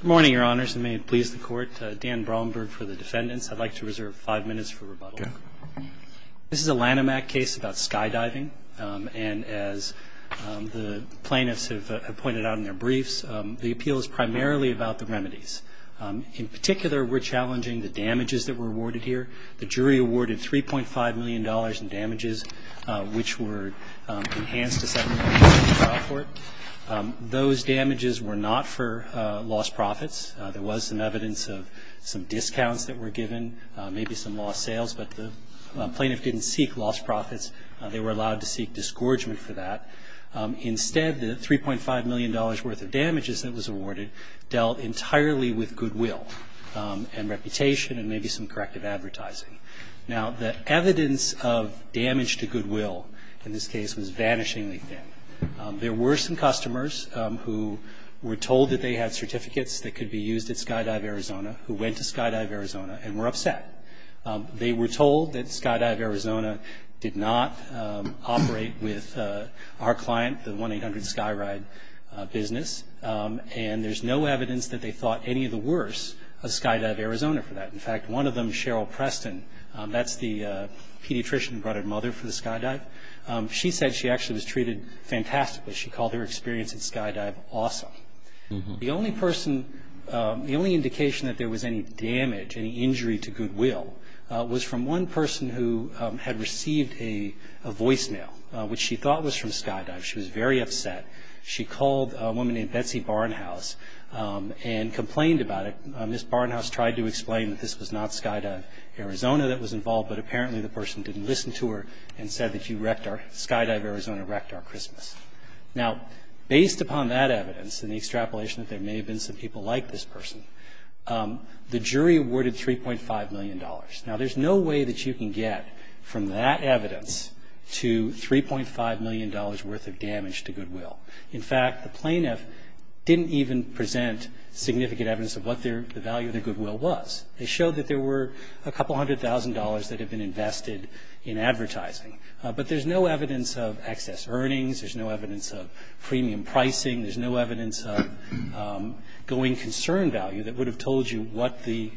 Good morning, Your Honors, and may it please the Court. Dan Bromberg for the defendants. I'd like to reserve five minutes for rebuttal. This is a Lanham Act case about skydiving, and as the plaintiffs have pointed out in their briefs, the appeal is primarily about the remedies. In particular, we're challenging the damages that were awarded here. The jury awarded $3.5 million in damages, which were enhanced to $7 million in the trial court. Those damages were not for lost profits. There was some evidence of some discounts that were given, maybe some lost sales, but the plaintiff didn't seek lost profits. They were allowed to seek disgorgement for that. Instead, the $3.5 million worth of damages that was awarded dealt entirely with goodwill and reputation and maybe some corrective advertising. Now, the evidence of damage to goodwill in this case was vanishingly thin. There were some customers who were told that they had certificates that could be used at Skydive Arizona, who went to Skydive Arizona, and were upset. They were told that Skydive Arizona did not operate with our client, the 1-800-SKYRIDE business, and there's no evidence that they thought any of the worse of Skydive Arizona for that. In fact, one of them, Cheryl Preston, that's the pediatrician who brought her mother for the skydive, she said she actually was treated fantastically. She called her experience at Skydive awesome. The only person, the only indication that there was any damage, any injury to goodwill, was from one person who had received a voicemail, which she thought was from Skydive. She was very upset. She called a woman named Betsy Barnhouse and complained about it. Ms. Barnhouse tried to explain that this was not Skydive Arizona that was involved, but apparently the person didn't listen to her and said that Skydive Arizona wrecked our Christmas. Now, based upon that evidence and the extrapolation that there may have been some people like this person, the jury awarded $3.5 million. Now, there's no way that you can get from that evidence to $3.5 million worth of damage to goodwill. In fact, the plaintiff didn't even present significant evidence of what the value of their goodwill was. They showed that there were a couple hundred thousand dollars that had been invested in advertising. But there's no evidence of excess earnings. There's no evidence of premium pricing. There's no evidence of going concern value that would have told you what the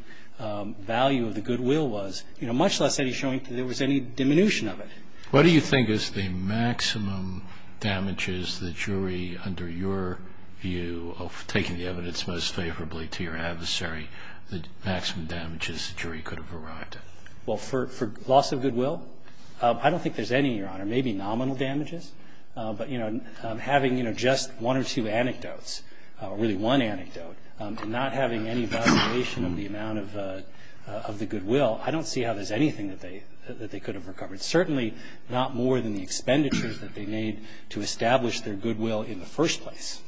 value of the goodwill was, much less any showing that there was any diminution of it. What do you think is the maximum damages the jury, under your view, taking the evidence most favorably to your adversary, the maximum damages the jury could have arrived at? Well, for loss of goodwill, I don't think there's any, Your Honor, maybe nominal damages. But, you know, having, you know, just one or two anecdotes, really one anecdote, and not having any evaluation of the amount of the goodwill, I don't see how there's anything that they could have recovered, certainly not more than the expenditures that they made to establish their goodwill in the first place.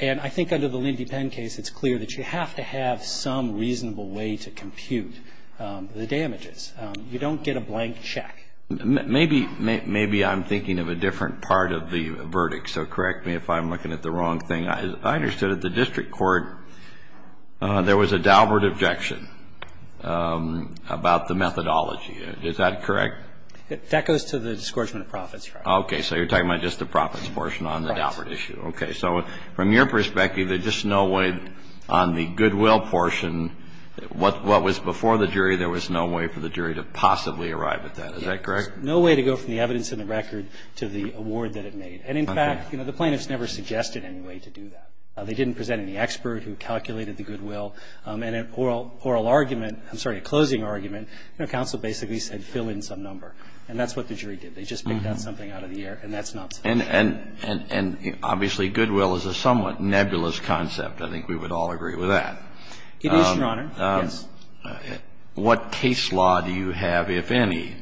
And I think under the Lindy Penn case, it's clear that you have to have some reasonable way to compute the damages. You don't get a blank check. Maybe I'm thinking of a different part of the verdict, so correct me if I'm looking at the wrong thing. I understand that the district court, there was a Daubert objection about the methodology. Is that correct? That goes to the discouragement of profits, Your Honor. Okay. So you're talking about just the profits portion on the Daubert issue. Right. Okay. So from your perspective, there's just no way on the goodwill portion, what was before the jury, there was no way for the jury to possibly arrive at that. Is that correct? There's no way to go from the evidence in the record to the award that it made. And in fact, you know, the plaintiffs never suggested any way to do that. They didn't present any expert who calculated the goodwill. And an oral argument, I'm sorry, a closing argument, you know, counsel basically said fill in some number. And that's what the jury did. They just picked out something out of the air, and that's not sufficient. And obviously goodwill is a somewhat nebulous concept. I think we would all agree with that. It is, Your Honor, yes. What case law do you have, if any,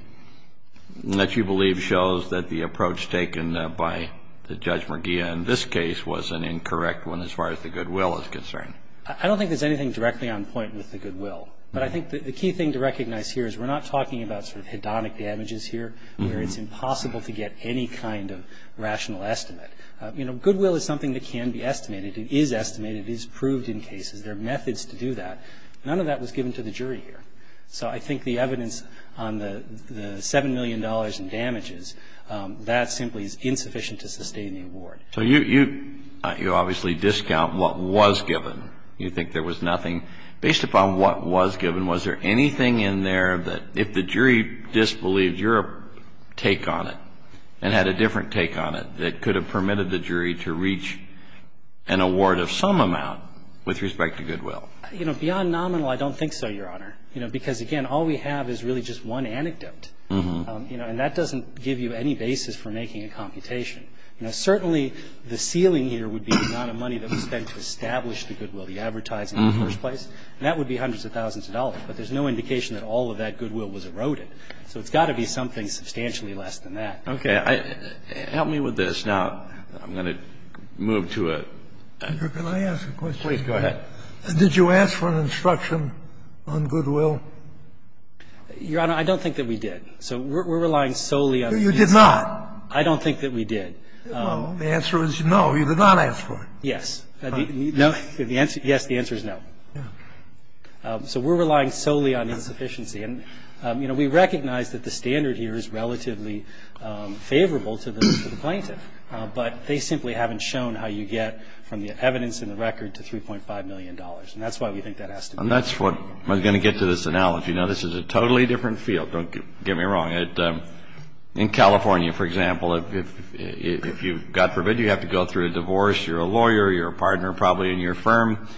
that you believe shows that the approach taken by Judge McGee in this case was an incorrect one as far as the goodwill is concerned? I don't think there's anything directly on point with the goodwill. But I think the key thing to recognize here is we're not talking about sort of hedonic damages here where it's impossible to get any kind of rational estimate. You know, goodwill is something that can be estimated. It is estimated. It is proved in cases. There are methods to do that. None of that was given to the jury here. So I think the evidence on the $7 million in damages, that simply is insufficient to sustain the award. So you obviously discount what was given. You think there was nothing. Based upon what was given, was there anything in there that if the jury disbelieved your take on it and had a different take on it that could have permitted the jury to reach an award of some amount with respect to goodwill? You know, beyond nominal, I don't think so, Your Honor. You know, because, again, all we have is really just one anecdote. And that doesn't give you any basis for making a computation. Certainly the ceiling here would be the amount of money that was spent to establish the goodwill, the advertising in the first place. And that would be hundreds of thousands of dollars. But there's no indication that all of that goodwill was eroded. So it's got to be something substantially less than that. Okay. Help me with this. Now, I'm going to move to a other question. Please go ahead. Did you ask for an instruction on goodwill? Your Honor, I don't think that we did. So we're relying solely on insufficient. You did not. I don't think that we did. Well, the answer is no. You did not ask for it. Yes. No. Yes, the answer is no. Yeah. So we're relying solely on insufficiency. And, you know, we recognize that the standard here is relatively favorable to the plaintiff. But they simply haven't shown how you get from the evidence in the record to $3.5 million. And that's why we think that has to be. And that's what I'm going to get to this analogy. Now, this is a totally different field. Don't get me wrong. In California, for example, if you've got to go through a divorce, you're a lawyer, you're a partner probably in your firm,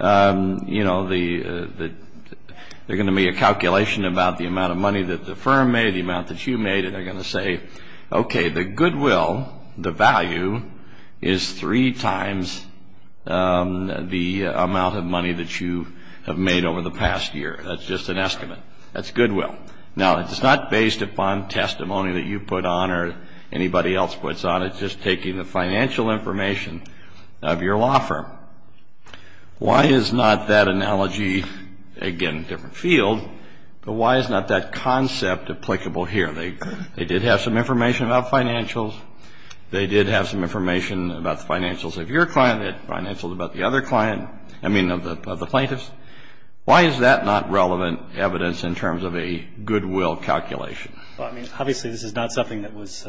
you know, there's going to be a calculation about the amount of money that the firm made, the amount that you made. And they're going to say, okay, the goodwill, the value, is three times the amount of money that you have made over the past year. That's just an estimate. That's goodwill. Now, it's not based upon testimony that you put on or anybody else puts on. It's just taking the financial information of your law firm. Why is not that analogy, again, a different field, but why is not that concept applicable here? They did have some information about financials. They did have some information about the financials of your client, financials about the other client, I mean, of the plaintiff's. Why is that not relevant evidence in terms of a goodwill calculation? Well, I mean, obviously this is not something that was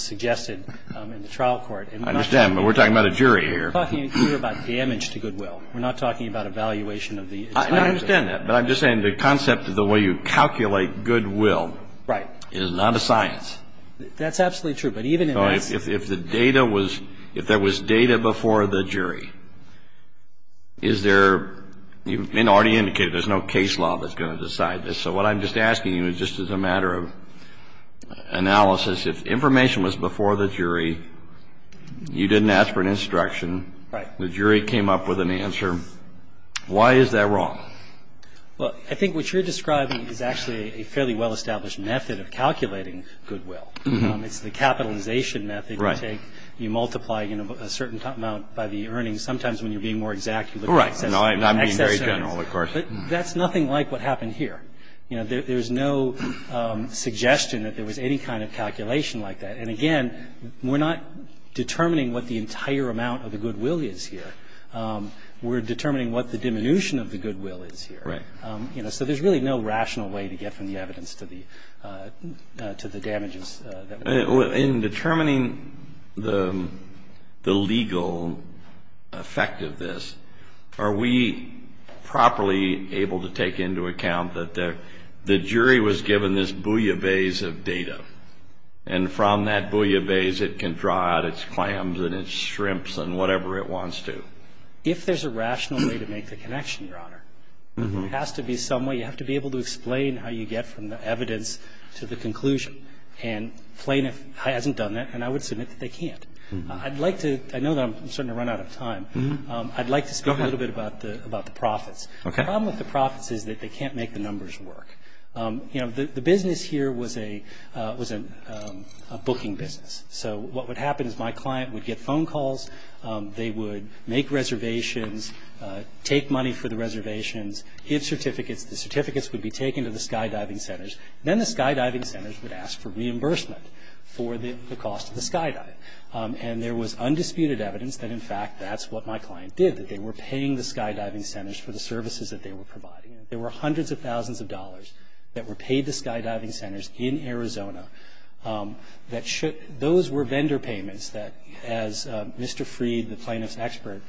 suggested in the trial court. I understand, but we're talking about a jury here. We're talking here about damage to goodwill. We're not talking about evaluation of the financials. I understand that, but I'm just saying the concept of the way you calculate goodwill is not a science. That's absolutely true, but even in this. If the data was, if there was data before the jury, is there, you've already indicated there's no case law that's going to decide this. So what I'm just asking you is just as a matter of analysis, if information was before the jury, you didn't ask for an instruction, the jury came up with an answer, why is that wrong? Well, I think what you're describing is actually a fairly well-established method of calculating goodwill. It's the capitalization method. You take, you multiply a certain amount by the earnings. Sometimes when you're being more exact, you look at excess earnings. Right. No, I'm being very general, of course. But that's nothing like what happened here. You know, there's no suggestion that there was any kind of calculation like that. And again, we're not determining what the entire amount of the goodwill is here. We're determining what the diminution of the goodwill is here. Right. You know, so there's really no rational way to get from the evidence to the damages. In determining the legal effect of this, are we properly able to take into account that the jury was given this bouillabaisse of data and from that bouillabaisse it can draw out its clams and its shrimps and whatever it wants to? If there's a rational way to make the connection, Your Honor, it has to be some way. You have to be able to explain how you get from the evidence to the conclusion. And Flayniff hasn't done that, and I would submit that they can't. I'd like to – I know that I'm starting to run out of time. I'd like to speak a little bit about the profits. Okay. The problem with the profits is that they can't make the numbers work. The business here was a booking business. So what would happen is my client would get phone calls. They would make reservations, take money for the reservations, get certificates. The certificates would be taken to the skydiving centers. Then the skydiving centers would ask for reimbursement for the cost of the skydive. And there was undisputed evidence that, in fact, that's what my client did, that they were paying the skydiving centers for the services that they were providing. There were hundreds of thousands of dollars that were paid to skydiving centers in Arizona. Those were vendor payments that, as Mr. Freed, the Flayniff's expert,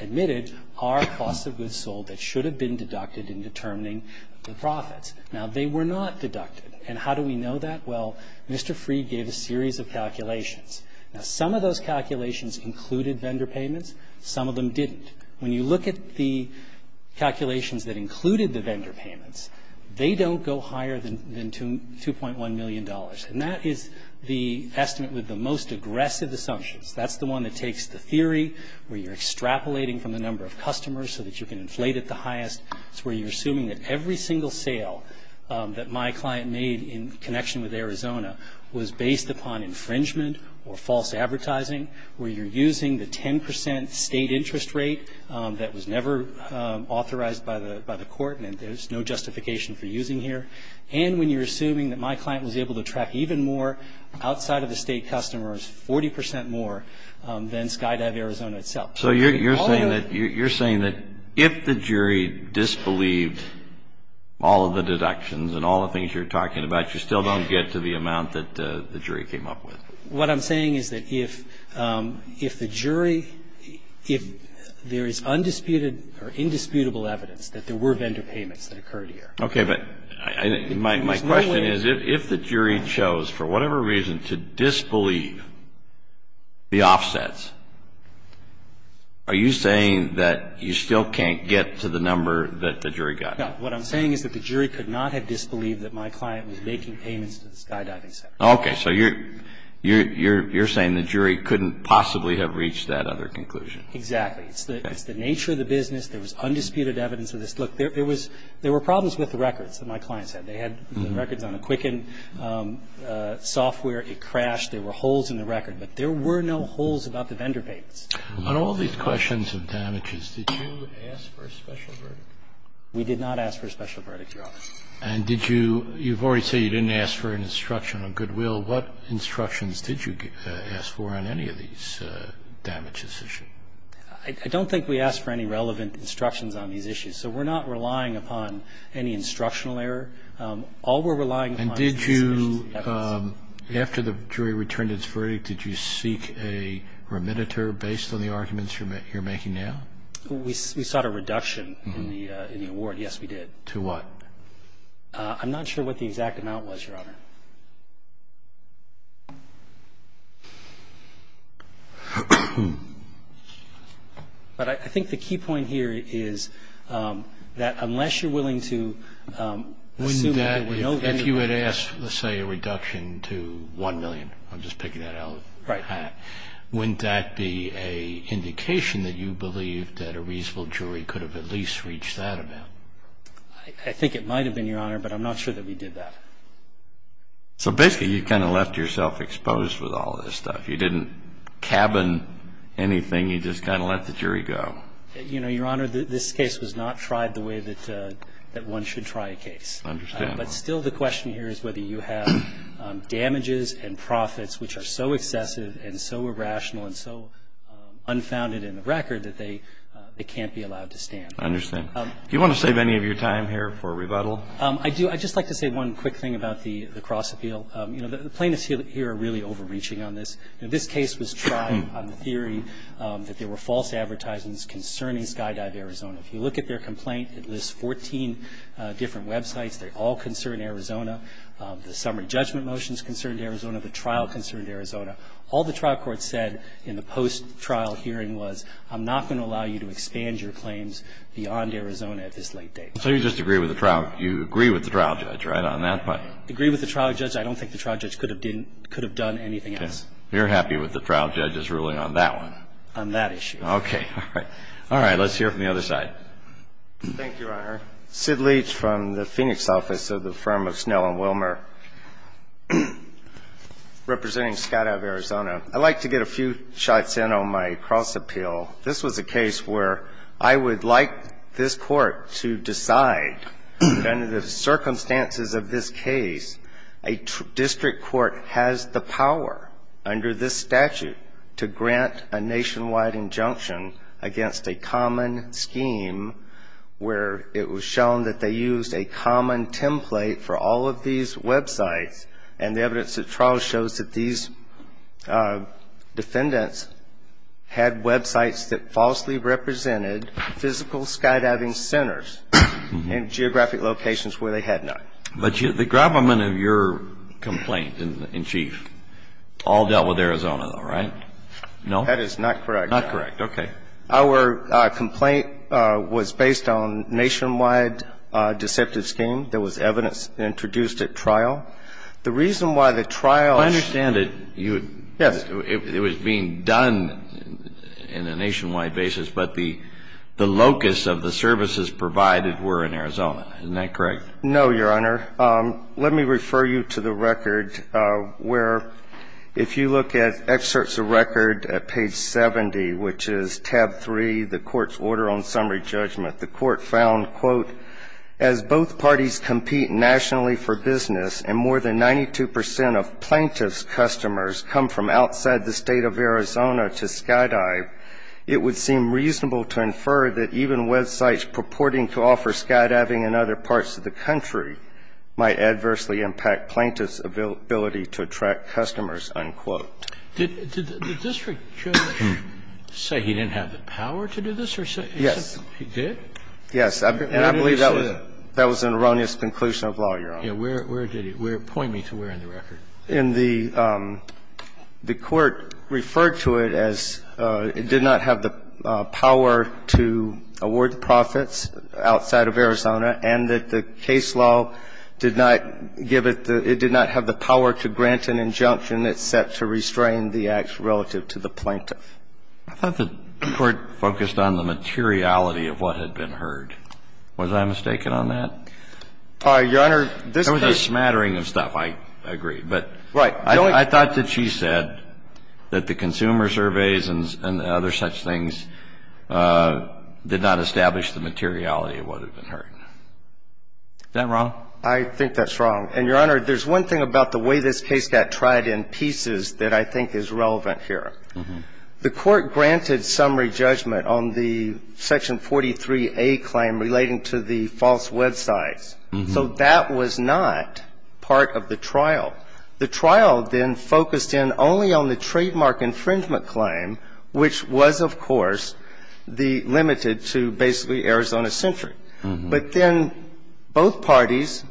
admitted, are cost of goods sold that should have been deducted in determining the profits. Now, they were not deducted. And how do we know that? Well, Mr. Freed gave a series of calculations. Now, some of those calculations included vendor payments. Some of them didn't. When you look at the calculations that included the vendor payments, they don't go higher than $2.1 million. And that is the estimate with the most aggressive assumptions. That's the one that takes the theory where you're extrapolating from the number of customers so that you can inflate at the highest. It's where you're assuming that every single sale that my client made in connection with Arizona was based upon infringement or false advertising, where you're using the 10 percent state interest rate that was never authorized by the court and there's no justification for using here, and when you're assuming that my client was able to attract even more outside of the state customers, 40 percent more than Skydive Arizona itself. So you're saying that if the jury disbelieved all of the deductions and all the things you're talking about, you still don't get to the amount that the jury came up with. What I'm saying is that if the jury, if there is undisputed or indisputable evidence that there were vendor payments that occurred here. Okay, but my question is if the jury chose for whatever reason to disbelieve the offsets, are you saying that you still can't get to the number that the jury got? No. What I'm saying is that the jury could not have disbelieved that my client was making payments to the skydiving center. Okay. So you're saying the jury couldn't possibly have reached that other conclusion. Exactly. It's the nature of the business. There was undisputed evidence of this. Look, there were problems with the records that my clients had. They had records on a Quicken software. It crashed. There were holes in the record. But there were no holes about the vendor payments. On all these questions of damages, did you ask for a special verdict? We did not ask for a special verdict, Your Honor. And did you – you've already said you didn't ask for an instruction on goodwill. What instructions did you ask for on any of these damages issues? I don't think we asked for any relevant instructions on these issues. So we're not relying upon any instructional error. All we're relying upon is the description of the evidence. And did you – after the jury returned its verdict, did you seek a remediator based on the arguments you're making now? We sought a reduction in the award. Yes, we did. To what? I'm not sure what the exact amount was, Your Honor. But I think the key point here is that unless you're willing to assume that there were no – If you had asked, let's say, a reduction to $1 million – I'm just picking that out of the hat – wouldn't that be an indication that you believe that a reasonable jury could have at least reached that amount? I think it might have been, Your Honor, but I'm not sure that we did that. So basically you kind of left yourself exposed with all this stuff. You didn't cabin anything. You just kind of let the jury go. You know, Your Honor, this case was not tried the way that one should try a case. I understand. But still the question here is whether you have damages and profits which are so excessive and so irrational and so unfounded in the record that they can't be allowed to stand. I understand. Do you want to save any of your time here for rebuttal? I do. I'd just like to say one quick thing about the cross-appeal. You know, the plaintiffs here are really overreaching on this. This case was tried on the theory that there were false advertisements concerning Skydive Arizona. If you look at their complaint, it lists 14 different websites. They all concern Arizona. The summary judgment motion is concerned Arizona. The trial concerned Arizona. All the trial court said in the post-trial hearing was, I'm not going to allow you to expand your claims beyond Arizona at this late date. So you just agree with the trial. You agree with the trial judge, right, on that point? I agree with the trial judge. I don't think the trial judge could have done anything else. Okay. You're happy with the trial judge's ruling on that one? On that issue. All right. Let's hear it from the other side. Thank you, Your Honor. Sid Leach from the Phoenix office of the firm of Snell and Wilmer, representing Skydive Arizona. I'd like to get a few shots in on my cross-appeal. This was a case where I would like this Court to decide, under the circumstances of this case, a district court has the power under this statute to grant a nationwide injunction against a common scheme where it was shown that they used a common template for all of these websites, and the evidence at trial shows that these defendants had websites that falsely represented physical skydiving centers in geographic locations where they had not. But the gravamen of your complaint in chief all dealt with Arizona, though, right? No? That is not correct. Not correct. Okay. Our complaint was based on nationwide deceptive scheme. There was evidence introduced at trial. The reason why the trial was ---- I understand that it was being done in a nationwide basis, but the locus of the services provided were in Arizona. Isn't that correct? No, Your Honor. Let me refer you to the record where if you look at excerpts of record at page 70, which is tab 3, the Court's order on summary judgment, the Court found, quote, as both parties compete nationally for business and more than 92 percent of plaintiff's customers come from outside the state of Arizona to skydive, it would seem reasonable to infer that even websites purporting to offer skydiving in other parts of the country might adversely impact plaintiff's ability to attract customers, unquote. Did the district judge say he didn't have the power to do this? Yes. He did? Yes. And I believe that was an erroneous conclusion of law, Your Honor. Where did he? Point me to where in the record. In the court referred to it as it did not have the power to award profits outside of Arizona and that the case law did not give it the – it did not have the power to grant an injunction except to restrain the act relative to the plaintiff. I thought the court focused on the materiality of what had been heard. Was I mistaken on that? Your Honor, this case – Right. I thought that she said that the consumer surveys and other such things did not establish the materiality of what had been heard. Is that wrong? I think that's wrong. And, Your Honor, there's one thing about the way this case got tried in pieces that I think is relevant here. The court granted summary judgment on the Section 43A claim relating to the false websites. So that was not part of the trial. The trial then focused in only on the trademark infringement claim, which was, of course, the – limited to basically Arizona-centric. But then both parties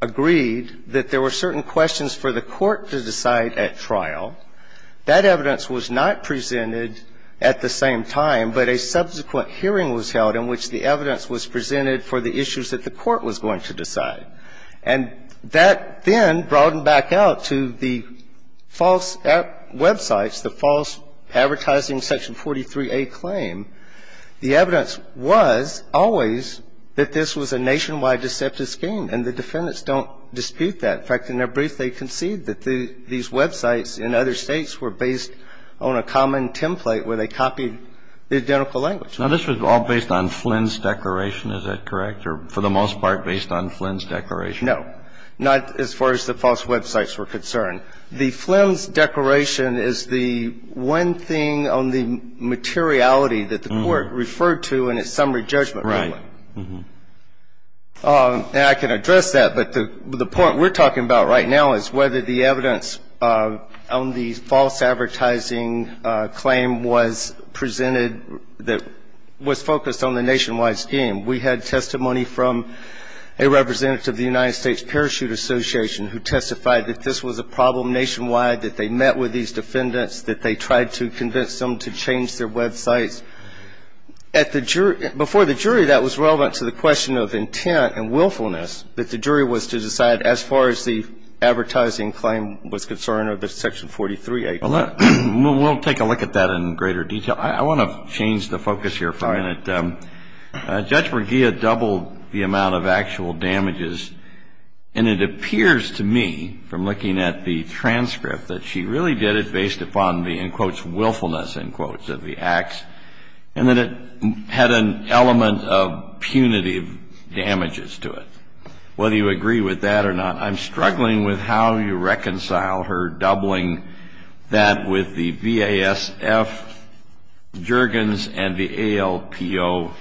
agreed that there were certain questions for the court to decide at trial. That evidence was not presented at the same time, but a subsequent hearing was held presented for the issues that the court was going to decide. And that then broadened back out to the false websites, the false advertising Section 43A claim. The evidence was always that this was a nationwide deceptive scheme. And the defendants don't dispute that. In fact, in their brief, they concede that these websites in other States were based on a common template where they copied the identical language. Now, this was all based on Flynn's declaration. Is that correct? Or for the most part based on Flynn's declaration? No. Not as far as the false websites were concerned. The Flynn's declaration is the one thing on the materiality that the court referred to in its summary judgment. Right. And I can address that. But the point we're talking about right now is whether the evidence on the false advertising claim was presented that was focused on the nationwide scheme. We had testimony from a representative of the United States Parachute Association who testified that this was a problem nationwide, that they met with these defendants, that they tried to convince them to change their websites. Before the jury, that was relevant to the question of intent and willfulness, that the jury was to decide as far as the advertising claim was concerned or the Section 43A claim. Well, we'll take a look at that in greater detail. I want to change the focus here for a minute. Judge Bergia doubled the amount of actual damages, and it appears to me from looking at the transcript that she really did it based upon the, in quotes, willfulness, in quotes, of the acts, and that it had an element of punitive damages to it. Whether you agree with that or not, I'm struggling with how you reconcile her doubling that with the VASF jurgens and the ALPO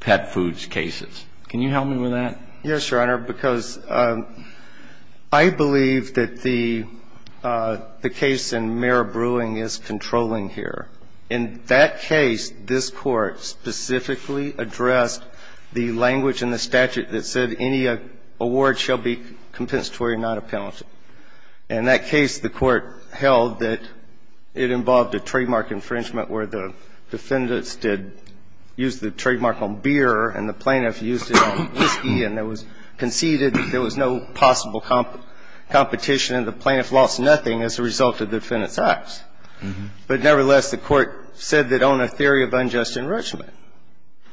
pet foods cases. Can you help me with that? Yes, Your Honor, because I believe that the case in Mare Brewing is controlling here. In that case, this Court specifically addressed the language in the statute that said any award shall be compensatory, not a penalty. In that case, the Court held that it involved a trademark infringement where the defendants did use the trademark on beer and the plaintiff used it on whiskey, and there was conceded that there was no possible competition, and the plaintiff lost nothing as a result of the defendant's acts. But nevertheless, the Court said that on a theory of unjust enrichment,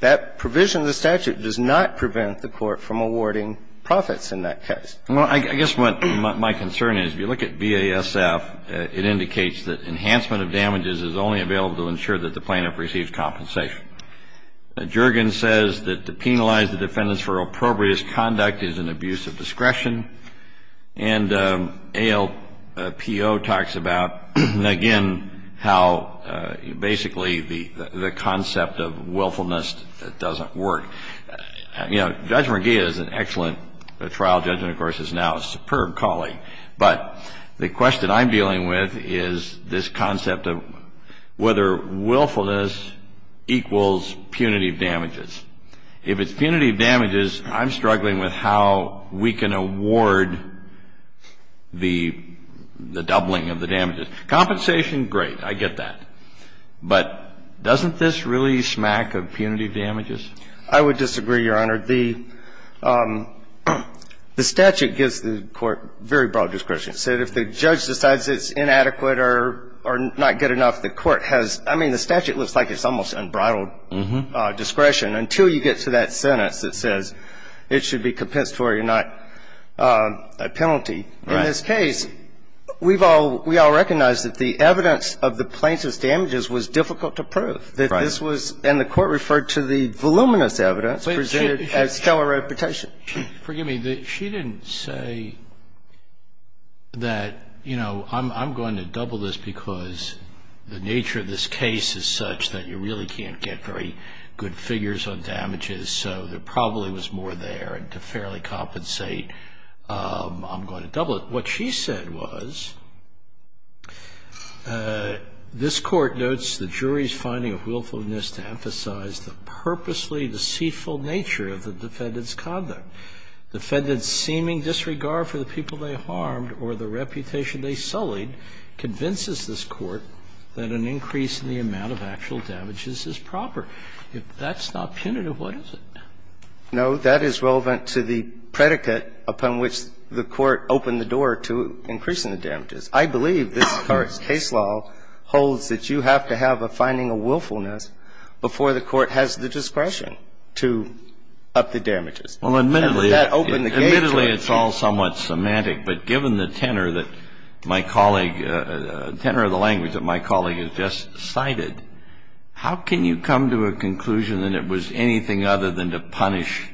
that provision of the statute does not prevent the Court from awarding profits in that case. Well, I guess what my concern is, if you look at VASF, it indicates that enhancement of damages is only available to ensure that the plaintiff receives compensation. A jurgen says that to penalize the defendants for appropriate conduct is an abuse of discretion. And ALPO talks about, again, how basically the concept of willfulness doesn't work. You know, Judge Merguia is an excellent trial judge and, of course, is now a superb colleague. But the question I'm dealing with is this concept of whether willfulness equals punitive damages. If it's punitive damages, I'm struggling with how we can award the doubling of the damages. Compensation, great. I get that. But doesn't this really smack of punitive damages? I would disagree, Your Honor. The statute gives the Court very broad discretion. So if the judge decides it's inadequate or not good enough, the Court has – I mean, the statute looks like it's almost unbridled discretion until you get to that sentence that says it should be compensatory and not a penalty. Right. In this case, we've all – we all recognize that the evidence of the plaintiff's damages was difficult to prove. Right. That this was – and the Court referred to the voluminous evidence presented as stellar reputation. Forgive me. She didn't say that, you know, I'm going to double this because the nature of this case is such that you really can't get very good figures on damages, so there probably was more there. And to fairly compensate, I'm going to double it. What she said was, this Court notes the jury's finding of willfulness to emphasize the purposely deceitful nature of the defendant's conduct. The defendant's seeming disregard for the people they harmed or the reputation they sullied convinces this Court that an increase in the amount of actual damages is proper. If that's not punitive, what is it? No, that is relevant to the predicate upon which the Court opened the door to increasing the damages. I believe this Court's case law holds that you have to have a finding of willfulness before the Court has the discretion to up the damages. Well, admittedly, it's all somewhat semantic, but given the tenor of the language that my colleague has just cited, how can you come to a conclusion that it was anything other than to punish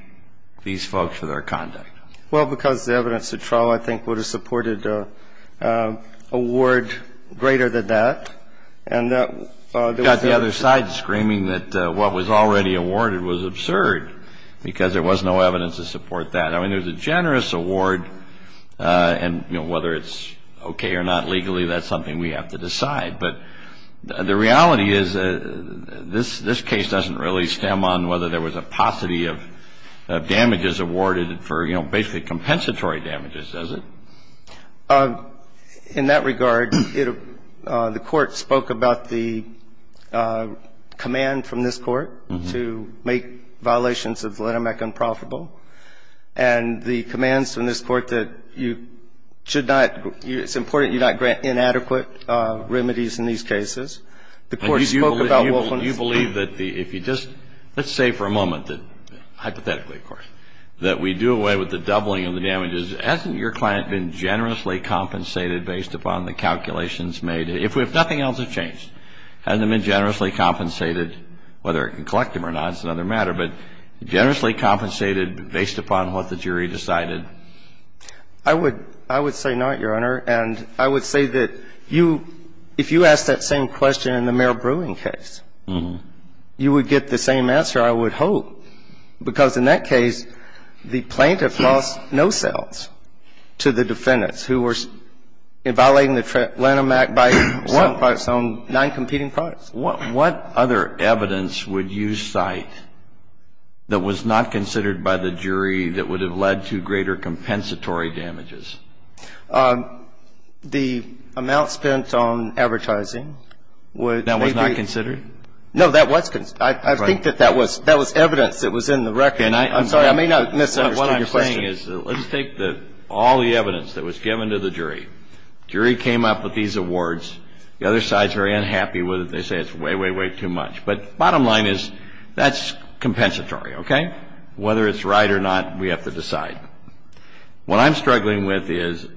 these folks for their conduct? Well, because the evidence at trial, I think, would have supported a ward greater than that, and that was the other side screaming that what was already awarded was absurd, because there was no evidence to support that. I mean, there's a generous award, and, you know, whether it's okay or not legally, that's something we have to decide. But the reality is this case doesn't really stem on whether there was a paucity of damages awarded for, you know, basically compensatory damages, does it? In that regard, the Court spoke about the command from this Court to make sure that the damages were not, you know, inadequate, and to make violations of the Lenamec unprofitable, and the commands from this Court that you should not – it's important you not grant inadequate remedies in these cases. The Court spoke about willfulness. But you believe that if you just – let's say for a moment that, hypothetically, of course, that we do away with the doubling of the damages, hasn't your client been generously compensated based upon the calculations made? If nothing else has changed, hasn't it been generously compensated? Whether it can collect them or not is another matter. But generously compensated based upon what the jury decided? I would say not, Your Honor. And I would say that you – if you asked that same question in the Merrill Brewing case, you would get the same answer, I would hope, because in that case, the plaintiff lost no sales to the defendants who were violating the Lenamec by selling products on noncompeting products. What other evidence would you cite that was not considered by the jury that would have led to greater compensatory damages? The amount spent on advertising would be – That was not considered? No, that was – I think that that was – that was evidence that was in the record. Okay. And I – I'm sorry. I may not have missed one of your questions. What I'm saying is, let's take the – all the evidence that was given to the jury. The jury came up with these awards. The other side is very unhappy with it. They say it's way, way, way too much. But bottom line is, that's compensatory, okay? Whether it's right or not, we have to decide. What I'm struggling with is,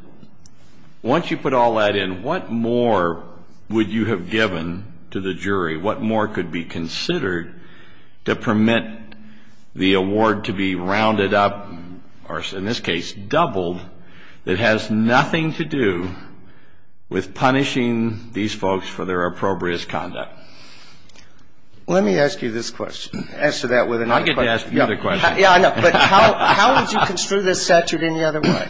once you put all that in, what more would you have given to the jury? What more could be considered to permit the award to be rounded up, or in this case, doubled, that has nothing to do with punishing these folks for their appropriate conduct? Let me ask you this question. Answer that with another question. I get to ask you the question. Yeah, I know. But how would you construe this statute any other way?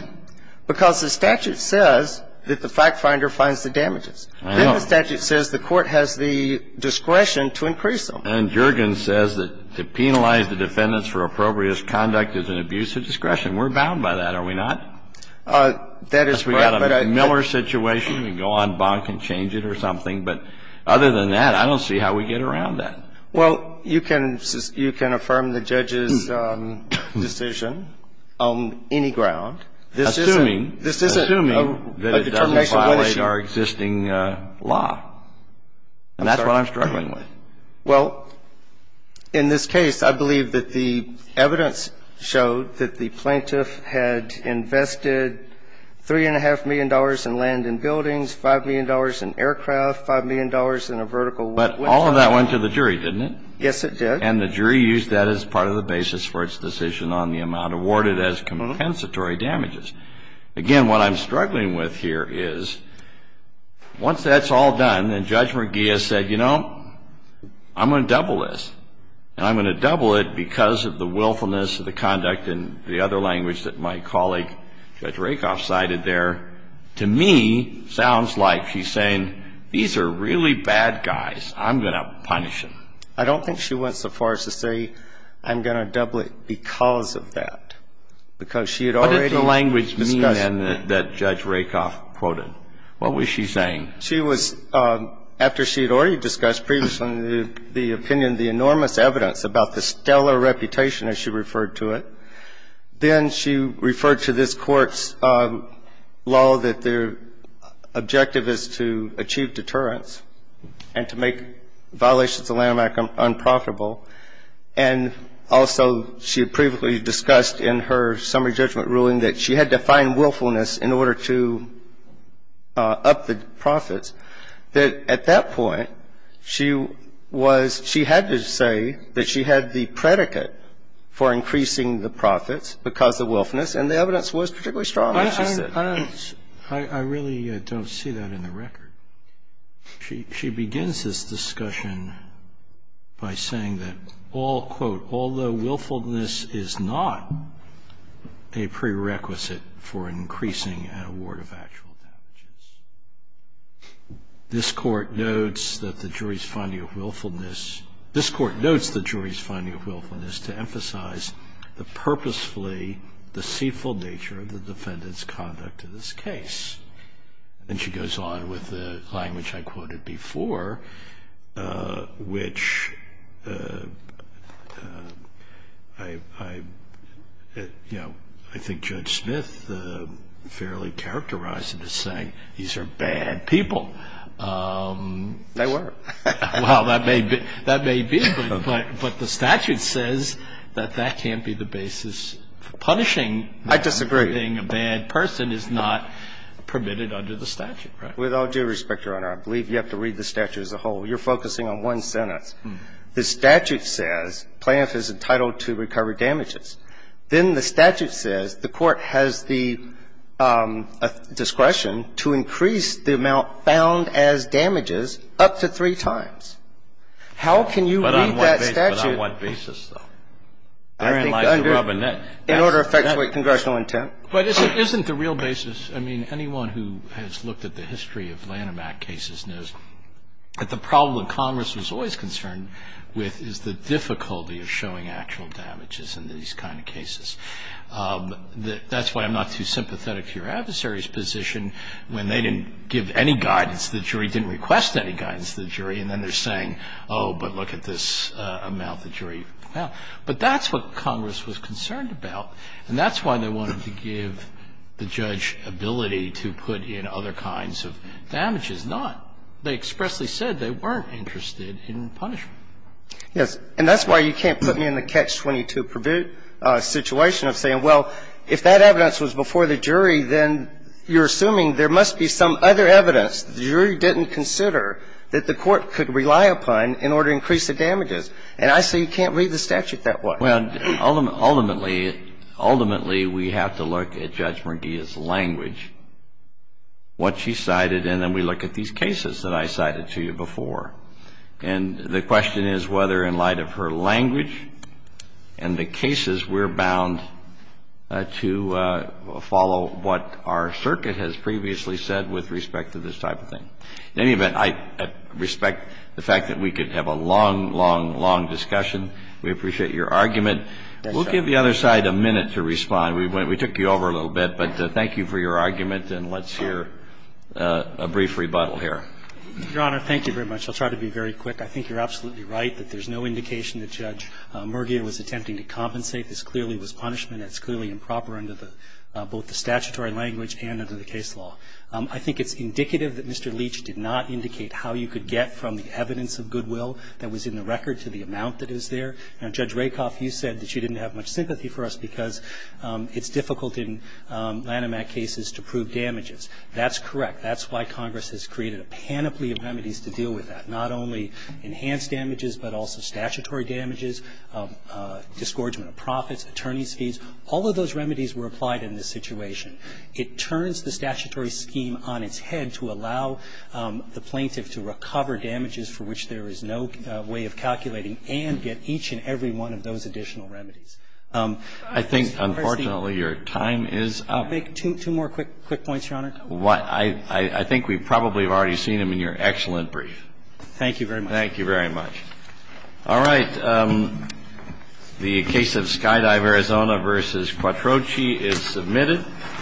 Because the statute says that the fact finder finds the damages. I know. But the statute says the court has the discretion to increase them. And Juergen says that to penalize the defendants for appropriate conduct is an abuse of discretion. We're bound by that, are we not? That is correct. We've got a Miller situation. We can go on bonk and change it or something. But other than that, I don't see how we get around that. Well, you can – you can affirm the judge's decision on any ground. Assuming. Assuming. Assuming that it doesn't violate our existing law. And that's what I'm struggling with. Well, in this case, I believe that the evidence showed that the plaintiff had invested $3.5 million in land and buildings, $5 million in aircraft, $5 million in a vertical window. But all of that went to the jury, didn't it? Yes, it did. And the jury used that as part of the basis for its decision on the amount awarded as compensatory damages. Again, what I'm struggling with here is, once that's all done and Judge McGee has said, you know, I'm going to double this. And I'm going to double it because of the willfulness of the conduct and the other language that my colleague, Judge Rakoff, cited there, to me sounds like she's saying, these are really bad guys. I'm going to punish them. I don't think she went so far as to say, I'm going to double it because of that. What did the language mean then that Judge Rakoff quoted? What was she saying? She was, after she had already discussed previously the opinion, the enormous evidence about the stellar reputation, as she referred to it, then she referred to this Court's law that their objective is to achieve deterrence and to make violations of the Landmark Act unprofitable. And also she had previously discussed in her summary judgment ruling that she had to find willfulness in order to up the profits, that at that point she was, she had to say that she had the predicate for increasing the profits because of willfulness, and the evidence was particularly strong, as she said. She begins this discussion by saying that all, quote, although willfulness is not a prerequisite for increasing an award of actual damages. This Court notes that the jury's finding of willfulness, this Court notes the jury's finding of willfulness to emphasize the purposefully deceitful nature of the defendant's conduct in this case. And she goes on with the language I quoted before, which I, you know, I think Judge Smith fairly characterized it as saying these are bad people. They were. Well, that may be, but the statute says that that can't be the basis for punishing. I disagree. Being a bad person is not permitted under the statute, right? With all due respect, Your Honor, I believe you have to read the statute as a whole. You're focusing on one sentence. The statute says plaintiff is entitled to recover damages. Then the statute says the Court has the discretion to increase the amount found as damages up to three times. How can you read that statute? But on what basis, though? I think under, in order to effectuate congressional intent. But isn't the real basis, I mean, anyone who has looked at the history of Lanham Act cases knows that the problem that Congress was always concerned with is the difficulty of showing actual damages in these kind of cases. That's why I'm not too sympathetic to your adversary's position when they didn't give any guidance to the jury, didn't request any guidance to the jury, and then they're saying, oh, but look at this amount the jury found. But that's what Congress was concerned about, and that's why they wanted to give the judge ability to put in other kinds of damages. Not, they expressly said they weren't interested in punishment. Yes. And that's why you can't put me in the catch-22 situation of saying, well, if that evidence was before the jury, then you're assuming there must be some other evidence that the jury didn't consider that the court could rely upon in order to increase the damages. And I say you can't read the statute that way. Well, ultimately, ultimately, we have to look at Judge Mergia's language, what she cited, and then we look at these cases that I cited to you before. And the question is whether, in light of her language and the cases, we're bound to follow what our circuit has previously said with respect to this type of thing. In any event, I respect the fact that we could have a long, long, long discussion. We appreciate your argument. We'll give the other side a minute to respond. We took you over a little bit. But thank you for your argument, and let's hear a brief rebuttal here. Your Honor, thank you very much. I'll try to be very quick. I think you're absolutely right that there's no indication that Judge Mergia was attempting to compensate. This clearly was punishment. It's clearly improper under both the statutory language and under the case law. I think it's indicative that Mr. Leach did not indicate how you could get from the evidence of goodwill that was in the record to the amount that is there. Now, Judge Rakoff, you said that you didn't have much sympathy for us because it's difficult in Lanham Act cases to prove damages. That's correct. That's why Congress has created a panoply of remedies to deal with that, not only enhanced damages, but also statutory damages, disgorgement of profits, attorney's fees. All of those remedies were applied in this situation. It turns the statutory scheme on its head to allow the plaintiff to recover damages for which there is no way of calculating and get each and every one of those additional remedies. I think, unfortunately, your time is up. Two more quick points, Your Honor. I think we probably have already seen them in your excellent brief. Thank you very much. Thank you very much. All right. The case of Skydive Arizona v. Quattrochi is submitted.